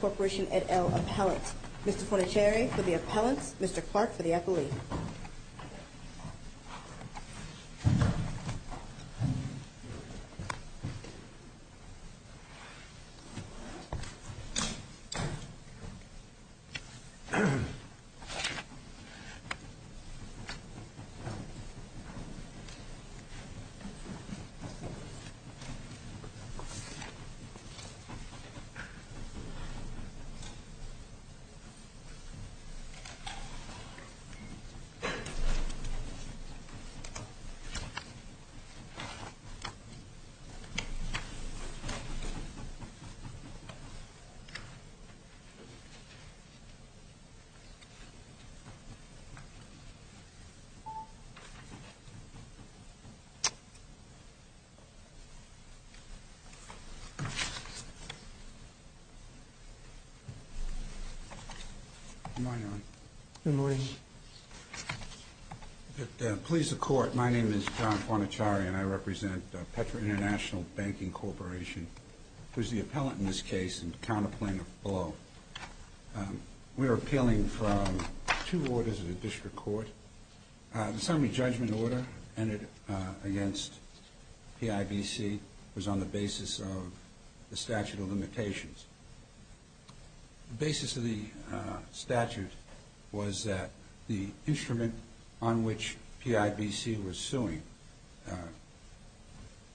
Corporation, et al., appellant. Mr. Fonachere for the appellant, Mr. Clark for the affiliate. Mr. Fonachere for the affiliate. Good morning, Your Honor. Good morning. To please the Court, my name is John Fonachere and I represent Petra International Banking Corporation, who is the appellant in this case and the counter plaintiff below. We are appealing from two orders of the District Court. The summary judgment order ended against PIBC was on the basis of the statute of limitations. The basis of the statute was that the instrument on which PIBC was suing,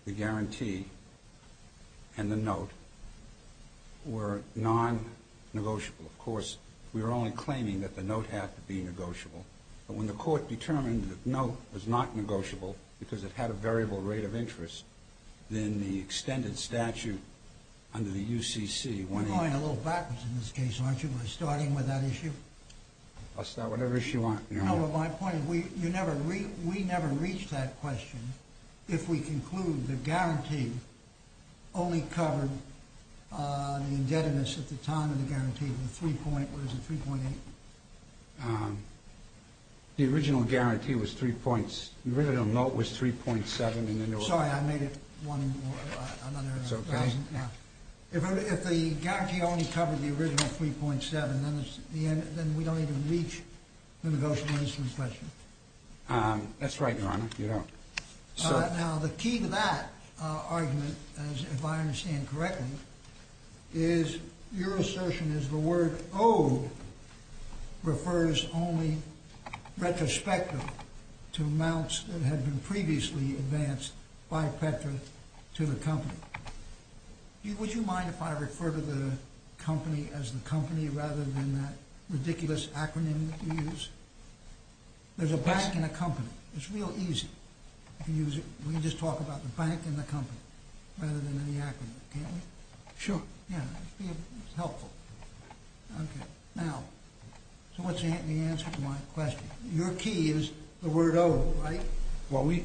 the guarantee and the note, were non-negotiable. Of course, we were only claiming that the note had to be negotiable. But when the Court determined that the note was not negotiable because it had a variable rate of interest, then the extended statute under the UCC... You're going a little backwards in this case, aren't you, by starting with that issue? I'll start whatever issue you want, Your Honor. No, but my point is we never reached that question if we conclude the guarantee only covered the indebtedness at the time of the guarantee, the 3.8. The original guarantee was 3.7. Sorry, I made it another thousand. It's okay. If the guarantee only covered the original 3.7, then we don't even reach the negotiable instrument question. That's right, Your Honor. You don't. Now, the key to that argument, if I understand correctly, is your assertion is the word owed refers only retrospectively to amounts that had been previously advanced by Petra to the company. Would you mind if I refer to the company as the company rather than that ridiculous acronym that you use? There's a bank and a company. It's real easy. We can just talk about the bank and the company rather than any acronym, can't we? Sure. Yeah, it'd be helpful. Okay. Now, so what's the answer to my question? Your key is the word owed, right? Well, we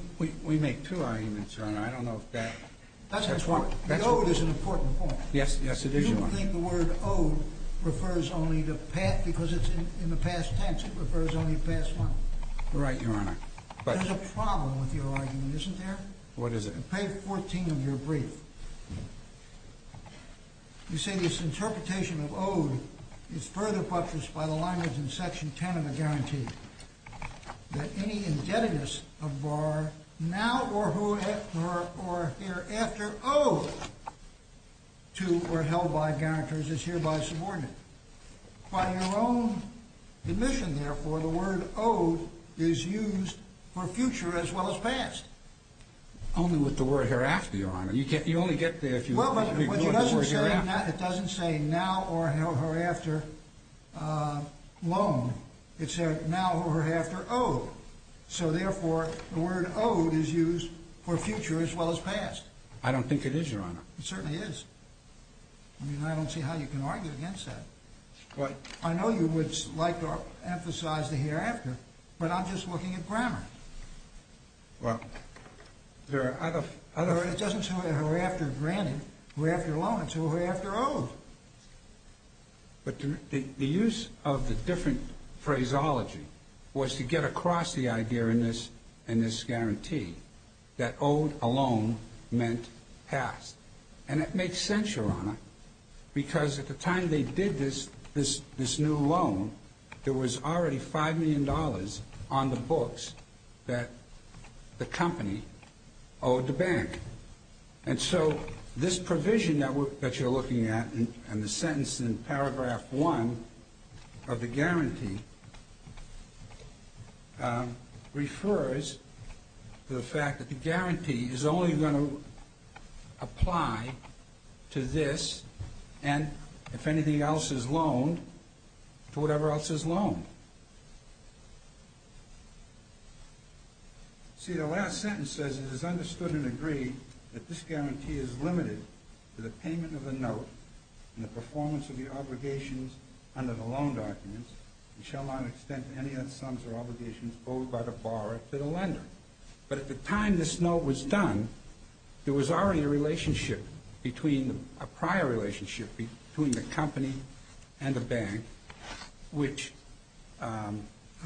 make two arguments, Your Honor. I don't know if that's one. The owed is an important point. Yes, yes, it is, Your Honor. Do you think the word owed refers only to, because it's in the past tense, it refers only to past one? You're right, Your Honor. There's a problem with your argument, isn't there? What is it? On page 14 of your brief, you say this interpretation of owed is further buttressed by the language in section 10 of the guarantee that any indebtedness of bar now or hereafter owed to or held by guarantors is hereby subordinated. By your own admission, therefore, the word owed is used for future as well as past. Only with the word hereafter, Your Honor. You only get there if you ignore the word hereafter. Well, but it doesn't say now or hereafter loan. It said now or hereafter owed. So, therefore, the word owed is used for future as well as past. I don't think it is, Your Honor. It certainly is. I mean, I don't see how you can argue against that. I know you would like to emphasize the hereafter, but I'm just looking at grammar. Well, there are other... It doesn't say hereafter granted, hereafter loan. It said hereafter owed. But the use of the different phraseology was to get across the idea in this guarantee that owed alone meant past. And it makes sense, Your Honor, because at the time they did this new loan, there was already $5 million on the books that the company owed the bank. And so this provision that you're looking at and the sentence in paragraph 1 of the guarantee refers to the fact that the guarantee is only going to apply to this and, if anything else is loaned, to whatever else is loaned. See, the last sentence says it is understood and agreed that this guarantee is limited to the payment of the note and the performance of the obligations under the loan documents and shall not extend to any other sums or obligations owed by the borrower to the lender. But at the time this note was done, there was already a relationship, a prior relationship between the company and the bank, which... I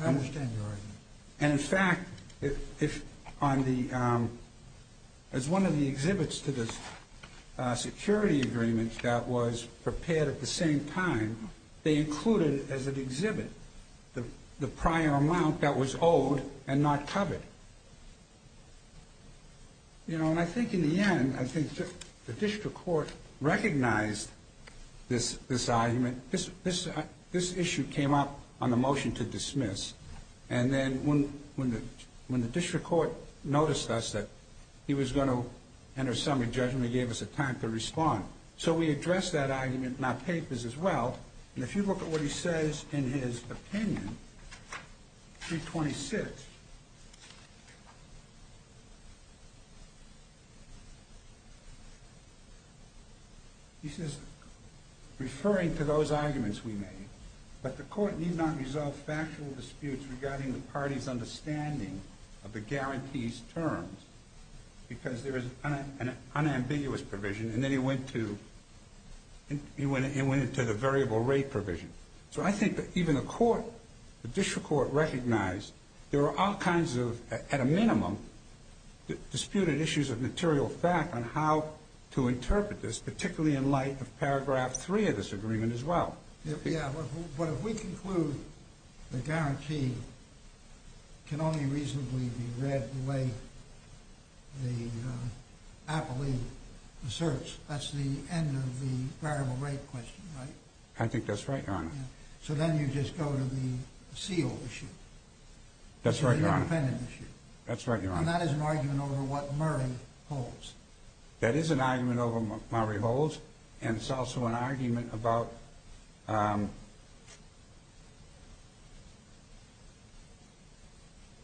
understand your argument. And, in fact, if on the... as one of the exhibits to this security agreement that was prepared at the same time, they included as an exhibit the prior amount that was owed and not covered. You know, and I think in the end, I think the district court recognized this argument. This issue came up on the motion to dismiss. And then when the district court noticed us that he was going to enter a summary judgment, he gave us a time to respond. So we addressed that argument in our papers as well. And if you look at what he says in his opinion, page 26, he says, referring to those arguments we made, but the court need not resolve factual disputes regarding the party's understanding of the guarantee's terms because there is an unambiguous provision. And then he went to the variable rate provision. So I think that even the court, the district court recognized there are all kinds of, at a minimum, disputed issues of material fact on how to interpret this, particularly in light of paragraph 3 of this agreement as well. But if we conclude the guarantee can only reasonably be read the way the appellee asserts, that's the end of the variable rate question, right? I think that's right, Your Honor. So then you just go to the seal issue. That's right, Your Honor. The independent issue. That's right, Your Honor. And that is an argument over what Murray holds. That is an argument over Murray holds, and it's also an argument about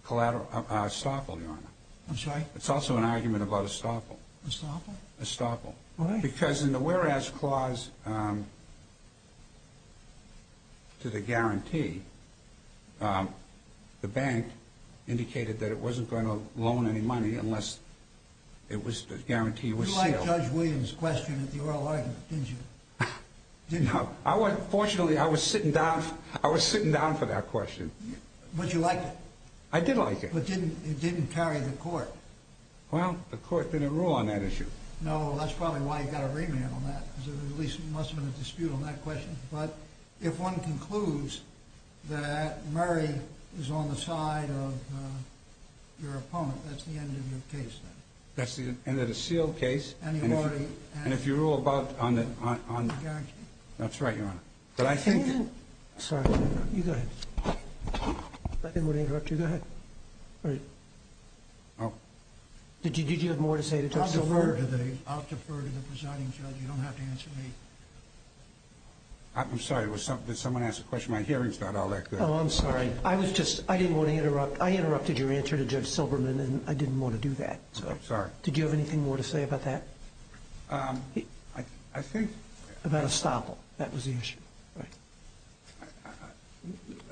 collateral estoppel, Your Honor. I'm sorry? It's also an argument about estoppel. Estoppel? Estoppel. Why? Because in the whereas clause to the guarantee, the bank indicated that it wasn't going to loan any money unless the guarantee was sealed. You liked Judge Williams' question at the oral argument, didn't you? Fortunately, I was sitting down for that question. But you liked it. I did like it. But it didn't carry the court. Well, the court didn't rule on that issue. No, that's probably why you've got to remand on that, because there must have been a dispute on that question. But if one concludes that Murray is on the side of your opponent, that's the end of your case then. That's the end of the seal case. And if you rule about on the guarantee. That's right, Your Honor. But I think... Sorry. You go ahead. I didn't want to interrupt you. Go ahead. All right. Oh. Did you have more to say? I'll defer to the presiding judge. You don't have to answer me. I'm sorry. Did someone ask a question? My hearing's not all that good. Oh, I'm sorry. I was just... I didn't want to interrupt. I interrupted your answer to Judge Silberman, and I didn't want to do that. I'm sorry. Did you have anything more to say about that? I think... About Estoppel. That was the issue. Right.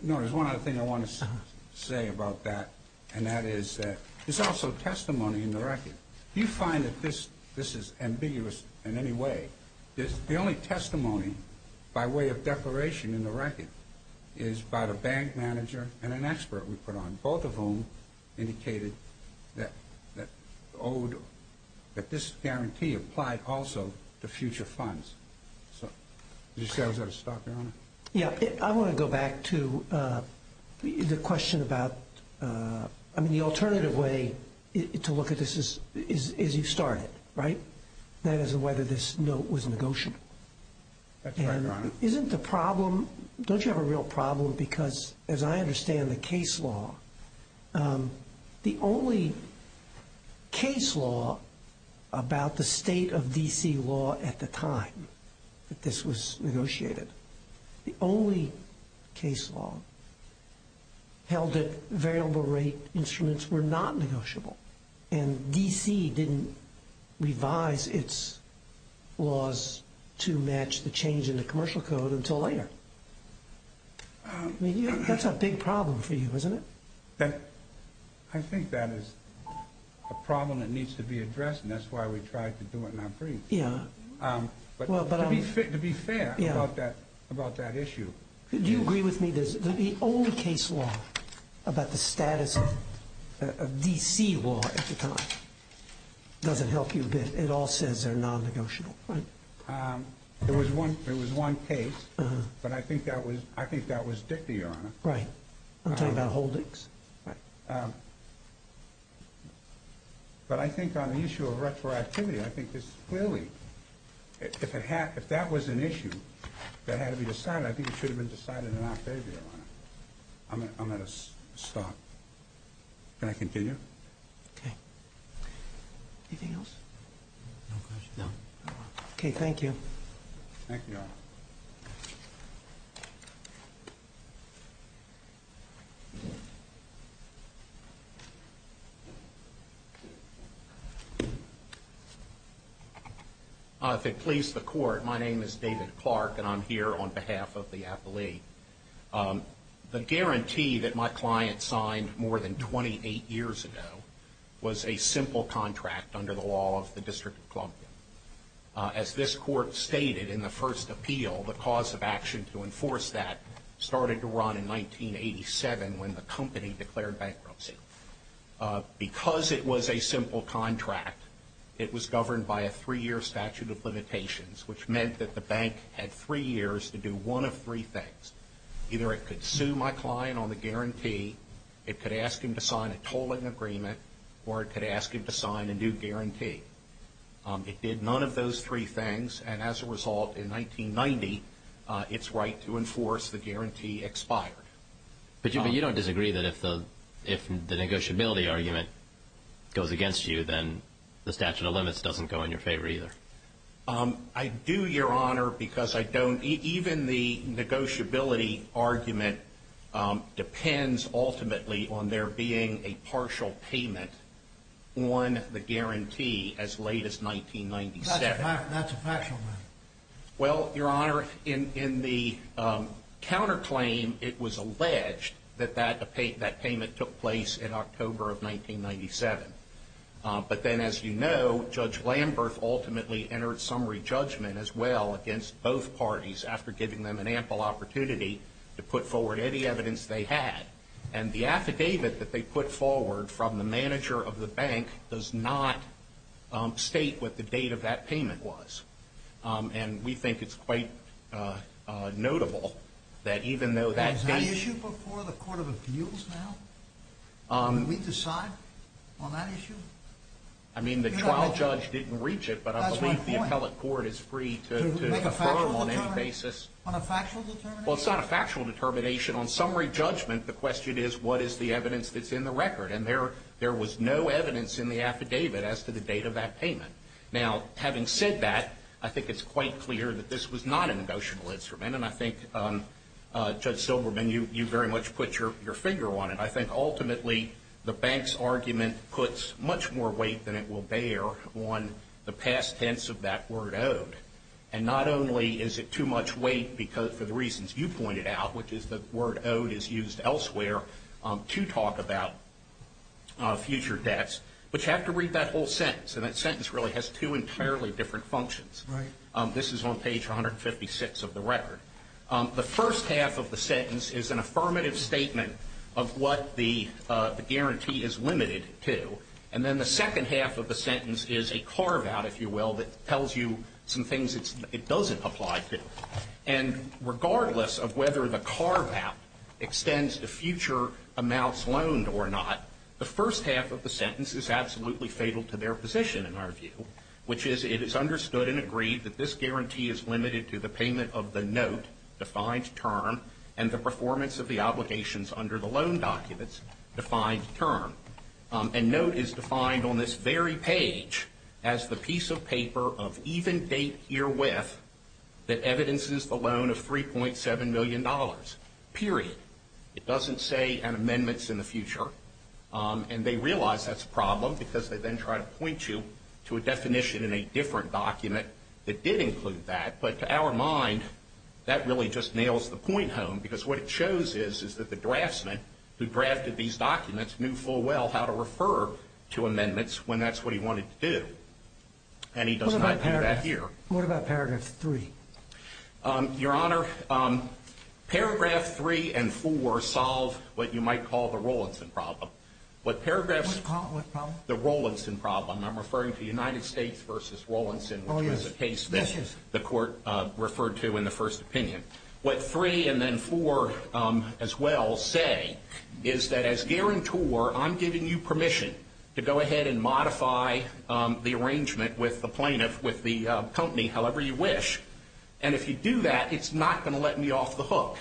No, there's one other thing I want to say about that, and that is that there's also testimony in the record. Do you find that this is ambiguous in any way? The only testimony by way of declaration in the record is by the bank manager and an expert we put on, both of whom indicated that this guarantee applied also to future funds. So did you say I was out of stock, Your Honor? Yeah. I want to go back to the question about... I mean, the alternative way to look at this is you've started, right? That is, whether this note was negotiable. That's right, Your Honor. Isn't the problem... Don't you have a real problem because, as I understand the case law, the only case law about the state of D.C. law at the time that this was negotiated, the only case law held that variable rate instruments were not negotiable, and D.C. didn't revise its laws to match the change in the commercial code until later? I mean, that's a big problem for you, isn't it? I think that is a problem that needs to be addressed, and that's why we tried to do it in our briefs. Yeah. To be fair about that issue... Do you agree with me that the only case law about the status of D.C. law at the time doesn't help you a bit? It all says they're non-negotiable, right? There was one case, but I think that was Dickey, Your Honor. Right. I'm talking about Holdings. Right. But I think on the issue of retroactivity, I think this clearly... If that was an issue that had to be decided, I think it should have been decided in Octavia, Your Honor. I'm at a stop. Can I continue? Okay. Anything else? No questions. No? Okay, thank you. Thank you, Your Honor. If it pleases the Court, my name is David Clark, and I'm here on behalf of the appellee. The guarantee that my client signed more than 28 years ago was a simple contract under the law of the District of Columbia. As this Court stated in the first appeal, the cause of action to enforce that started to run in 1987 when the company declared bankruptcy. Because it was a simple contract, it was governed by a three-year statute of limitations, which meant that the bank had three years to do one of three things. Either it could sue my client on the guarantee, it could ask him to sign a tolling agreement, or it could ask him to sign a new guarantee. It did none of those three things, and as a result, in 1990, its right to enforce the guarantee expired. But you don't disagree that if the negotiability argument goes against you, then the statute of limits doesn't go in your favor, either? I do, Your Honor, because I don't. Even the negotiability argument depends ultimately on there being a partial payment on the guarantee as late as 1997. That's a factual matter. Well, Your Honor, in the counterclaim, it was alleged that that payment took place in October of 1997. But then, as you know, Judge Lamberth ultimately entered summary judgment as well against both parties after giving them an ample opportunity to put forward any evidence they had. And the affidavit that they put forward from the manager of the bank does not state what the date of that payment was. And we think it's quite notable that even though that date... Is that an issue before the court of appeals now? Do we decide on that issue? I mean, the trial judge didn't reach it, but I believe the appellate court is free to affirm on any basis. On a factual determination? Well, it's not a factual determination. On summary judgment, the question is, what is the evidence that's in the record? And there was no evidence in the affidavit as to the date of that payment. Now, having said that, I think it's quite clear that this was not a negotiable instrument. And I think, Judge Silberman, you very much put your finger on it. I think ultimately the bank's argument puts much more weight than it will bear on the past tense of that word, owed. And not only is it too much weight for the reasons you pointed out, which is the word owed is used elsewhere to talk about future debts, but you have to read that whole sentence. And that sentence really has two entirely different functions. This is on page 156 of the record. The first half of the sentence is an affirmative statement of what the guarantee is limited to. And then the second half of the sentence is a carve-out, if you will, that tells you some things it doesn't apply to. And regardless of whether the carve-out extends to future amounts loaned or not, the first half of the sentence is absolutely fatal to their position, in our view, which is it is understood and agreed that this guarantee is limited to the payment of the note, defined term, and the performance of the obligations under the loan documents, defined term. And note is defined on this very page as the piece of paper of even date herewith that evidences the loan of $3.7 million, period. It doesn't say an amendment's in the future. And they realize that's a problem because they then try to point you to a definition in a different document that did include that. But to our mind, that really just nails the point home because what it shows is, is that the draftsman who drafted these documents knew full well how to refer to amendments when that's what he wanted to do. And he does not do that here. What about paragraph 3? Your Honor, paragraph 3 and 4 solve what you might call the Rowlinson problem. What paragraph? What problem? The Rowlinson problem. I'm referring to United States versus Rowlinson, which was a case that the court referred to in the first opinion. What 3 and then 4 as well say is that as guarantor, I'm giving you permission to go ahead and modify the arrangement with the plaintiff, with the company however you wish. And if you do that, it's not going to let me off the hook.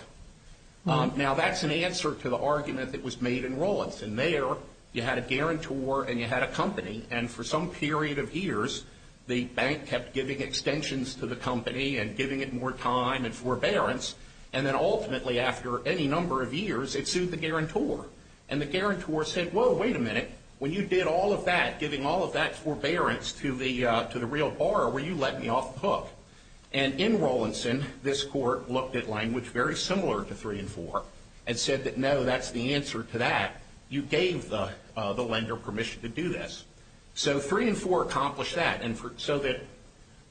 Now, that's an answer to the argument that was made in Rowlinson. You had a guarantor and you had a company. And for some period of years, the bank kept giving extensions to the company and giving it more time and forbearance. And then ultimately, after any number of years, it sued the guarantor. And the guarantor said, whoa, wait a minute. When you did all of that, giving all of that forbearance to the real borrower, were you letting me off the hook? And in Rowlinson, this court looked at language very similar to 3 and 4 and said that, no, that's the answer to that. You gave the lender permission to do this. So 3 and 4 accomplished that. And so that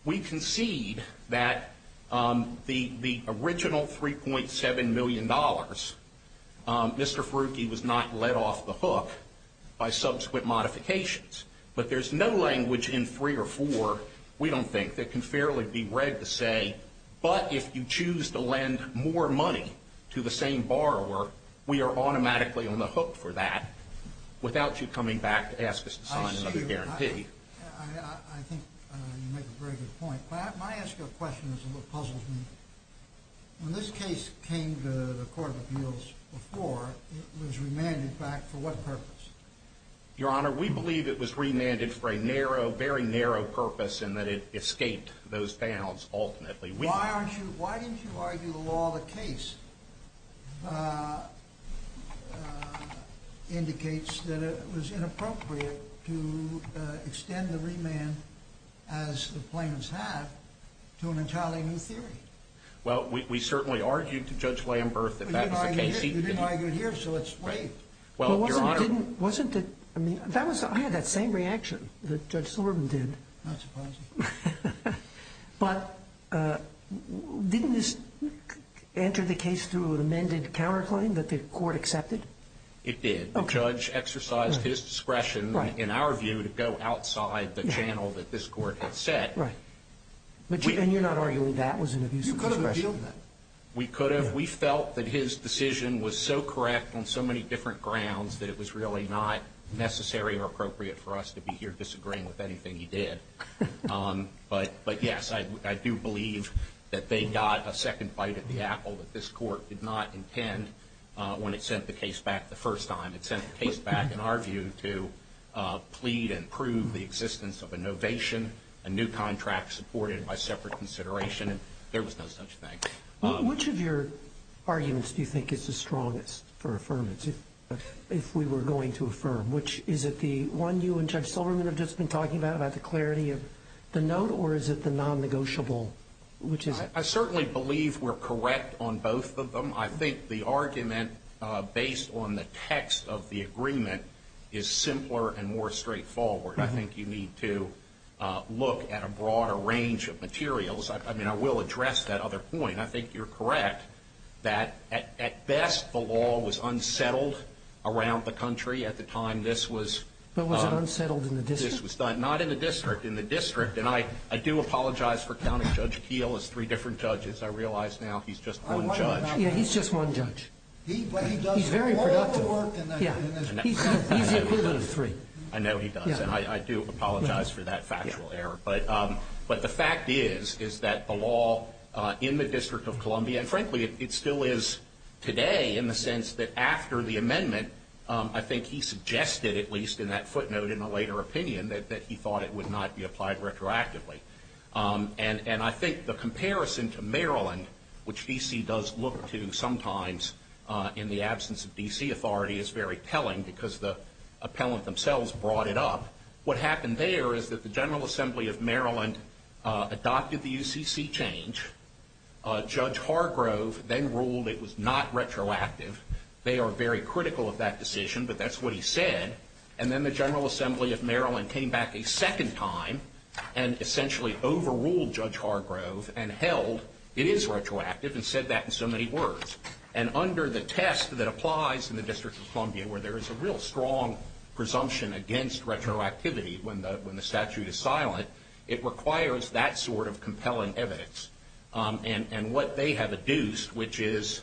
we concede that the original $3.7 million, Mr. Ferrucchi was not let off the hook by subsequent modifications. But there's no language in 3 or 4, we don't think, that can fairly be read to say, but if you choose to lend more money to the same borrower, we are automatically on the hook for that, without you coming back to ask us to sign another guarantee. I think you make a very good point. My ask of the question is a little puzzling. When this case came to the Court of Appeals before, it was remanded back for what purpose? Your Honor, we believe it was remanded for a very narrow purpose in that it escaped those panels ultimately. Why didn't you argue the law the case indicates that it was inappropriate to extend the remand, as the plaintiffs have, to an entirely new theory? Well, we certainly argued to Judge Lamberth that that was the case. But you didn't argue it here, so it's waived. I had that same reaction that Judge Silverman did. Not surprising. But didn't this enter the case through an amended counterclaim that the Court accepted? It did. The judge exercised his discretion, in our view, to go outside the channel that this Court had set. Right. And you're not arguing that was an abuse of discretion? You could have appealed that. We could have. We felt that his decision was so correct on so many different grounds that it was really not necessary or appropriate for us to be here disagreeing with anything he did. But, yes, I do believe that they got a second bite at the apple that this Court did not intend when it sent the case back the first time. It sent the case back, in our view, to plead and prove the existence of a novation, a new contract supported by separate consideration. There was no such thing. Which of your arguments do you think is the strongest for affirmance, if we were going to affirm? Is it the one you and Judge Silverman have just been talking about, about the clarity of the note, or is it the non-negotiable, which is it? I certainly believe we're correct on both of them. I think the argument based on the text of the agreement is simpler and more straightforward. I think you need to look at a broader range of materials. I mean, I will address that other point. I think you're correct that, at best, the law was unsettled around the country at the time this was done. But was it unsettled in the district? Not in the district. In the district. And I do apologize for counting Judge Keel as three different judges. I realize now he's just one judge. Yeah, he's just one judge. But he does all the work in the district. He's the equivalent of three. I know he does. And I do apologize for that factual error. But the fact is, is that the law in the District of Columbia, and frankly it still is today in the sense that after the amendment, I think he suggested, at least in that footnote in a later opinion, that he thought it would not be applied retroactively. And I think the comparison to Maryland, which D.C. does look to sometimes in the absence of D.C. authority, is very telling because the appellant themselves brought it up. What happened there is that the General Assembly of Maryland adopted the UCC change. Judge Hargrove then ruled it was not retroactive. They are very critical of that decision, but that's what he said. And then the General Assembly of Maryland came back a second time and essentially overruled Judge Hargrove and held it is retroactive and said that in so many words. And under the test that applies in the District of Columbia, where there is a real strong presumption against retroactivity when the statute is silent, it requires that sort of compelling evidence. And what they have adduced, which is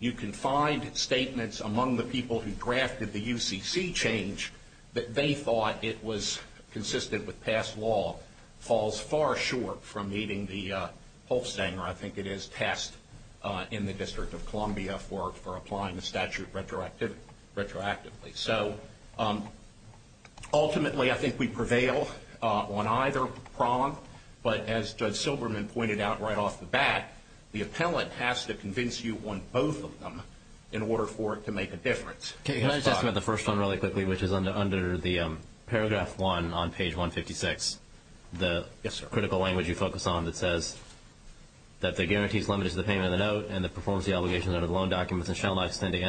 you can find statements among the people who drafted the UCC change that they thought it was consistent with past law, falls far short from meeting the Holstanger, I think it is, test in the District of Columbia for applying the statute retroactively. So ultimately I think we prevail on either prong, but as Judge Silberman pointed out right off the bat, the appellant has to convince you on both of them in order for it to make a difference. Can I just ask about the first one really quickly, which is under the paragraph one on page 156, the critical language you focus on that says that the guarantees limited to the payment of the note and the performance of the obligations under the loan documents and shall not extend to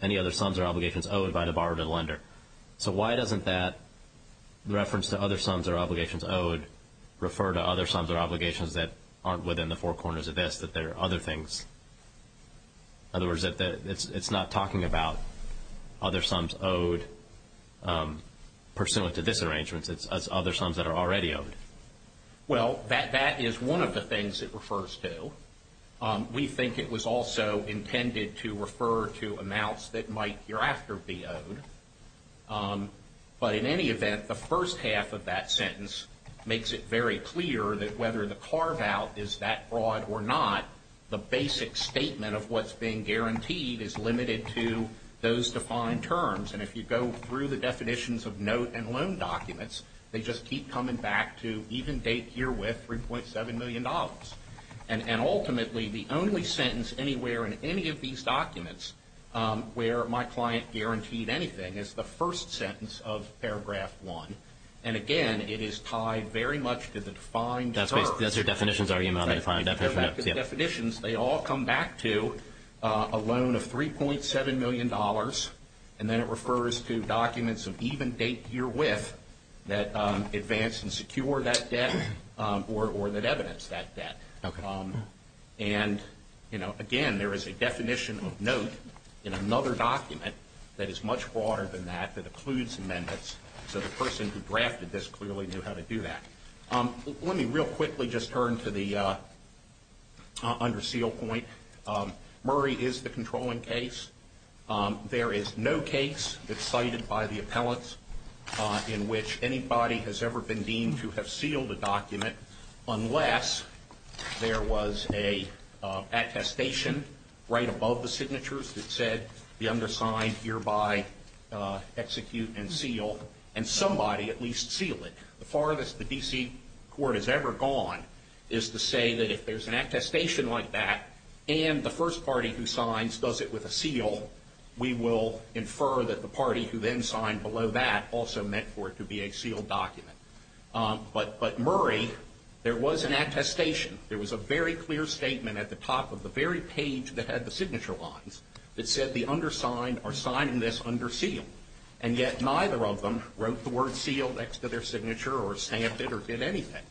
any other sums or obligations owed by the borrower to the lender. So why doesn't that reference to other sums or obligations owed refer to other sums or obligations that aren't within the four corners of this, that there are other things? In other words, it's not talking about other sums owed pursuant to this arrangement. It's other sums that are already owed. Well, that is one of the things it refers to. We think it was also intended to refer to amounts that might hereafter be owed. But in any event, the first half of that sentence makes it very clear that whether the carve-out is that broad or not, the basic statement of what's being guaranteed is limited to those defined terms. And if you go through the definitions of note and loan documents, they just keep coming back to even date herewith $3.7 million. And ultimately, the only sentence anywhere in any of these documents where my client guaranteed anything is the first sentence of paragraph one. And again, it is tied very much to the defined terms. That's your definitions argument on the defined definition? They all come back to a loan of $3.7 million. And then it refers to documents of even date herewith that advance and secure that debt or that evidence that debt. And, you know, again, there is a definition of note in another document that is much broader than that, that includes amendments, so the person who drafted this clearly knew how to do that. Let me real quickly just turn to the under seal point. Murray is the controlling case. There is no case that's cited by the appellants in which anybody has ever been deemed to have sealed a document unless there was an attestation right above the signatures that said the undersigned hereby execute and seal, and somebody at least sealed it. The farthest the D.C. court has ever gone is to say that if there's an attestation like that and the first party who signs does it with a seal, we will infer that the party who then signed below that also meant for it to be a sealed document. But Murray, there was an attestation. There was a very clear statement at the top of the very page that had the signature lines that said the undersigned are signing this under seal. And yet neither of them wrote the word seal next to their signature or stamped it or did anything.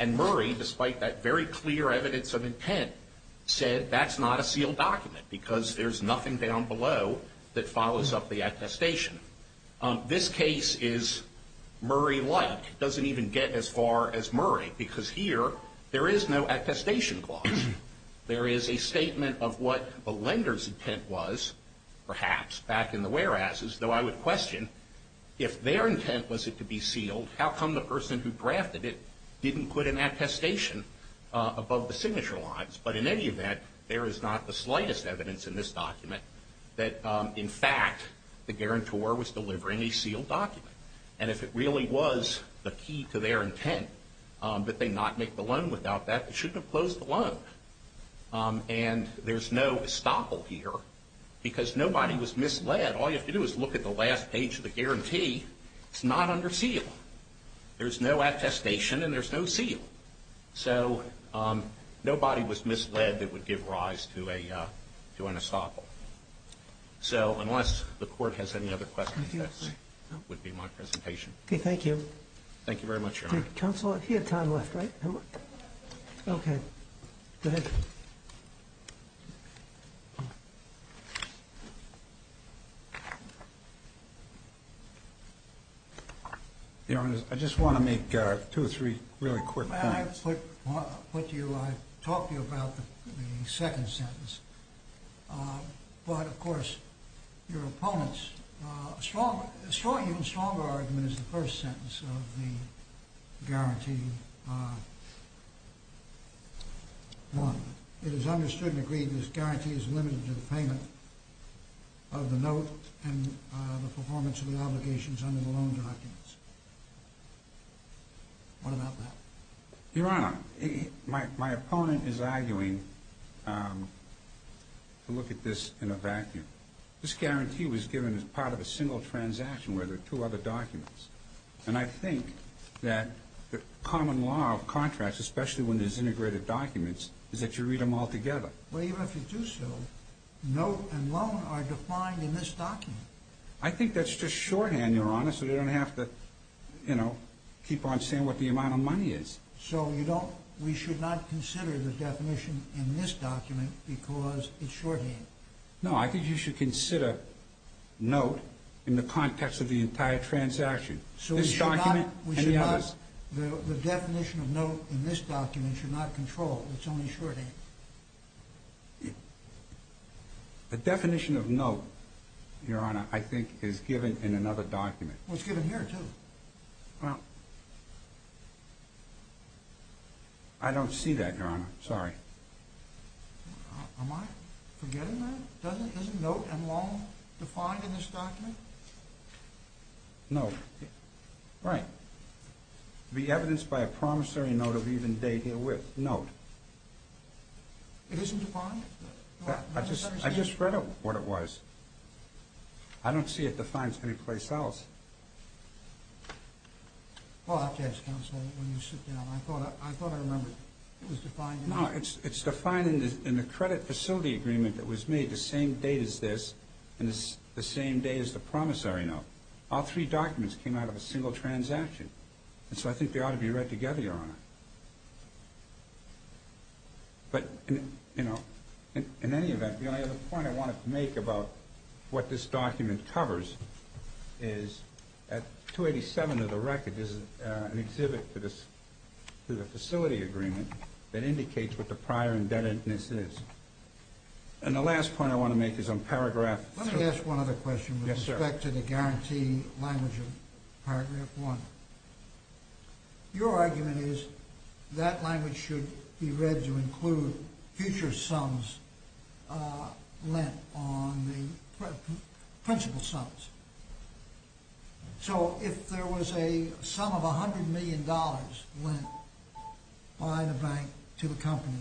And Murray, despite that very clear evidence of intent, said that's not a sealed document because there's nothing down below that follows up the attestation. This case is Murray-like. It doesn't even get as far as Murray because here there is no attestation clause. There is a statement of what the lender's intent was, perhaps, back in the whereas's, though I would question if their intent was it to be sealed, how come the person who drafted it didn't put an attestation above the signature lines? But in any event, there is not the slightest evidence in this document that, in fact, the guarantor was delivering a sealed document. And if it really was the key to their intent that they not make the loan without that, they shouldn't have closed the loan. And there's no estoppel here because nobody was misled. All you have to do is look at the last page of the guarantee. It's not under seal. There's no attestation and there's no seal. So nobody was misled that would give rise to an estoppel. So unless the Court has any other questions, that would be my presentation. Okay, thank you. Thank you very much, Your Honor. Counsel, you had time left, right? Okay, go ahead. Your Honor, I just want to make two or three really quick points. I'll talk to you about the second sentence. But, of course, your opponents, a stronger argument is the first sentence of the guarantee. One, it is understood and agreed this guarantee is limited to the payment of the note and the performance of the obligations under the loan documents. What about that? Your Honor, my opponent is arguing to look at this in a vacuum. This guarantee was given as part of a single transaction where there are two other documents. And I think that the common law of contracts, especially when there's integrated documents, is that you read them all together. Well, even if you do so, note and loan are defined in this document. I think that's just shorthand, Your Honor, so you don't have to keep on saying what the amount of money is. So we should not consider the definition in this document because it's shorthand. No, I think you should consider note in the context of the entire transaction. This document and the others. The definition of note in this document should not control. It's only shorthand. The definition of note, Your Honor, I think is given in another document. Well, it's given here, too. I don't see that, Your Honor. Sorry. Am I forgetting that? Isn't note and loan defined in this document? No. Right. Be evidenced by a promissory note of even date herewith. Note. It isn't defined? I just read what it was. I don't see it defined anyplace else. Well, I'll have to ask counsel when you sit down. I thought I remembered it was defined. No, it's defined in the credit facility agreement that was made the same date as this and the same date as the promissory note. All three documents came out of a single transaction, and so I think they ought to be read together, Your Honor. But, you know, in any event, the only other point I wanted to make about what this document covers is at 287 of the record is an exhibit to the facility agreement that indicates what the prior indebtedness is. And the last point I want to make is on paragraph 3. Let me ask one other question with respect to the guarantee language of paragraph 1. Your argument is that language should be read to include future sums lent on the principal sums. So if there was a sum of $100 million lent by the bank to the company,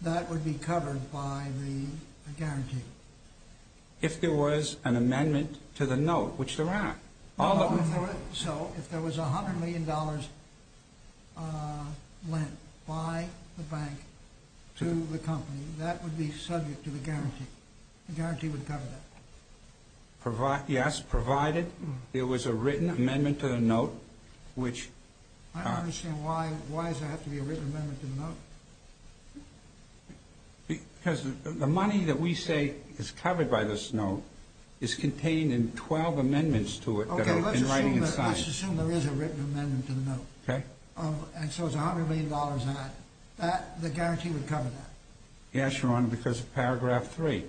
that would be covered by the guarantee. If there was an amendment to the note, which there aren't. So if there was $100 million lent by the bank to the company, that would be subject to the guarantee. The guarantee would cover that. Yes, provided there was a written amendment to the note, which... I don't understand. Why does there have to be a written amendment to the note? Because the money that we say is covered by this note is contained in 12 amendments to it that are in writing and signed. Okay, let's assume there is a written amendment to the note. Okay. And so if there's $100 million in it, the guarantee would cover that. Yes, Your Honor, because of paragraph 3.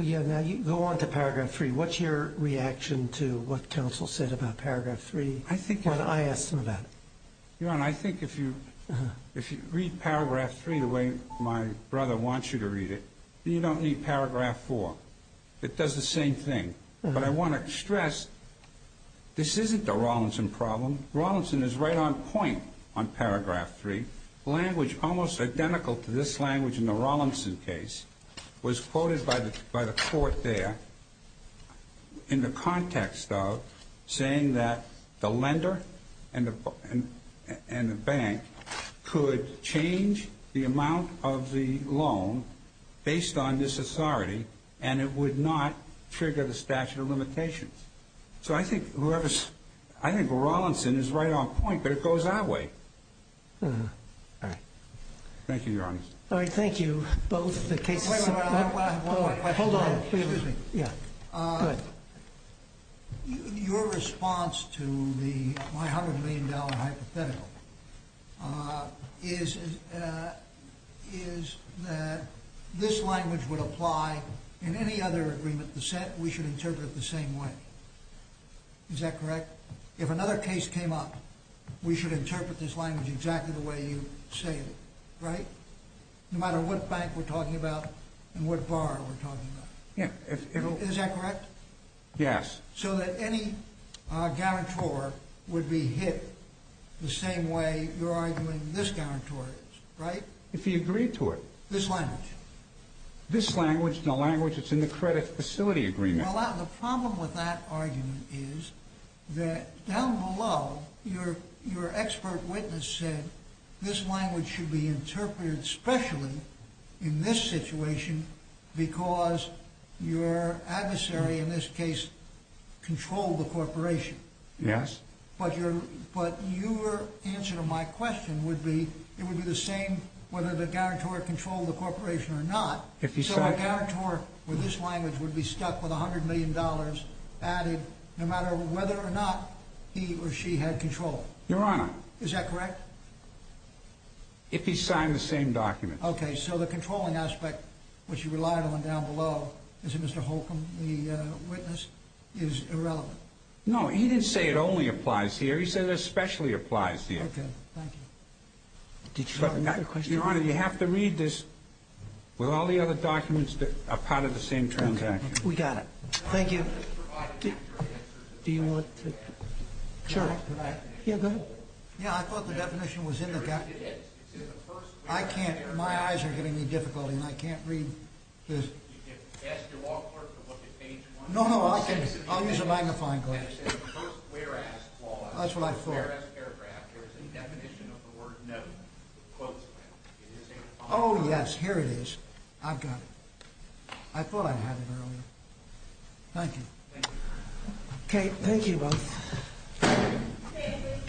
Yeah, now go on to paragraph 3. What's your reaction to what counsel said about paragraph 3 when I asked him about it? Your Honor, I think if you read paragraph 3 the way my brother wants you to read it, you don't need paragraph 4. It does the same thing. But I want to stress, this isn't a Rawlinson problem. Rawlinson is right on point on paragraph 3. Language almost identical to this language in the Rawlinson case was quoted by the court there. In the context of saying that the lender and the bank could change the amount of the loan based on this authority, and it would not trigger the statute of limitations. So I think Rawlinson is right on point, but it goes that way. All right. Thank you, Your Honor. All right, thank you. Wait a minute, I have one more question. Hold on, excuse me. Go ahead. Your response to the $100 million hypothetical is that this language would apply in any other agreement. We should interpret it the same way. Is that correct? If another case came up, we should interpret this language exactly the way you say it, right? No matter what bank we're talking about and what bar we're talking about. Yeah. Is that correct? Yes. So that any guarantor would be hit the same way you're arguing this guarantor is, right? If he agreed to it. This language. This language, the language that's in the credit facility agreement. Well, the problem with that argument is that down below, your expert witness said this language should be interpreted specially in this situation because your adversary in this case controlled the corporation. Yes. But your answer to my question would be it would be the same whether the guarantor controlled the corporation or not. So a guarantor with this language would be stuck with $100 million added no matter whether or not he or she had control. Your Honor. Is that correct? If he signed the same document. Okay. So the controlling aspect, which you relied on down below, is it Mr. Holcomb, the witness, is irrelevant? No, he didn't say it only applies here. He said it especially applies here. Okay. Thank you. Did you have another question? Your Honor, you have to read this with all the other documents that are part of the same transaction. Okay. We got it. Thank you. Do you want to? Sure. Yeah, go ahead. Yeah, I thought the definition was in the document. I can't. My eyes are getting me difficulty and I can't read this. No, no. I'll use a magnifying glass. That's what I thought. In the first paragraph, there is a definition of the word no. Oh, yes. Here it is. I've got it. I thought I had it earlier. Thank you. Thank you. Okay. Thank you both.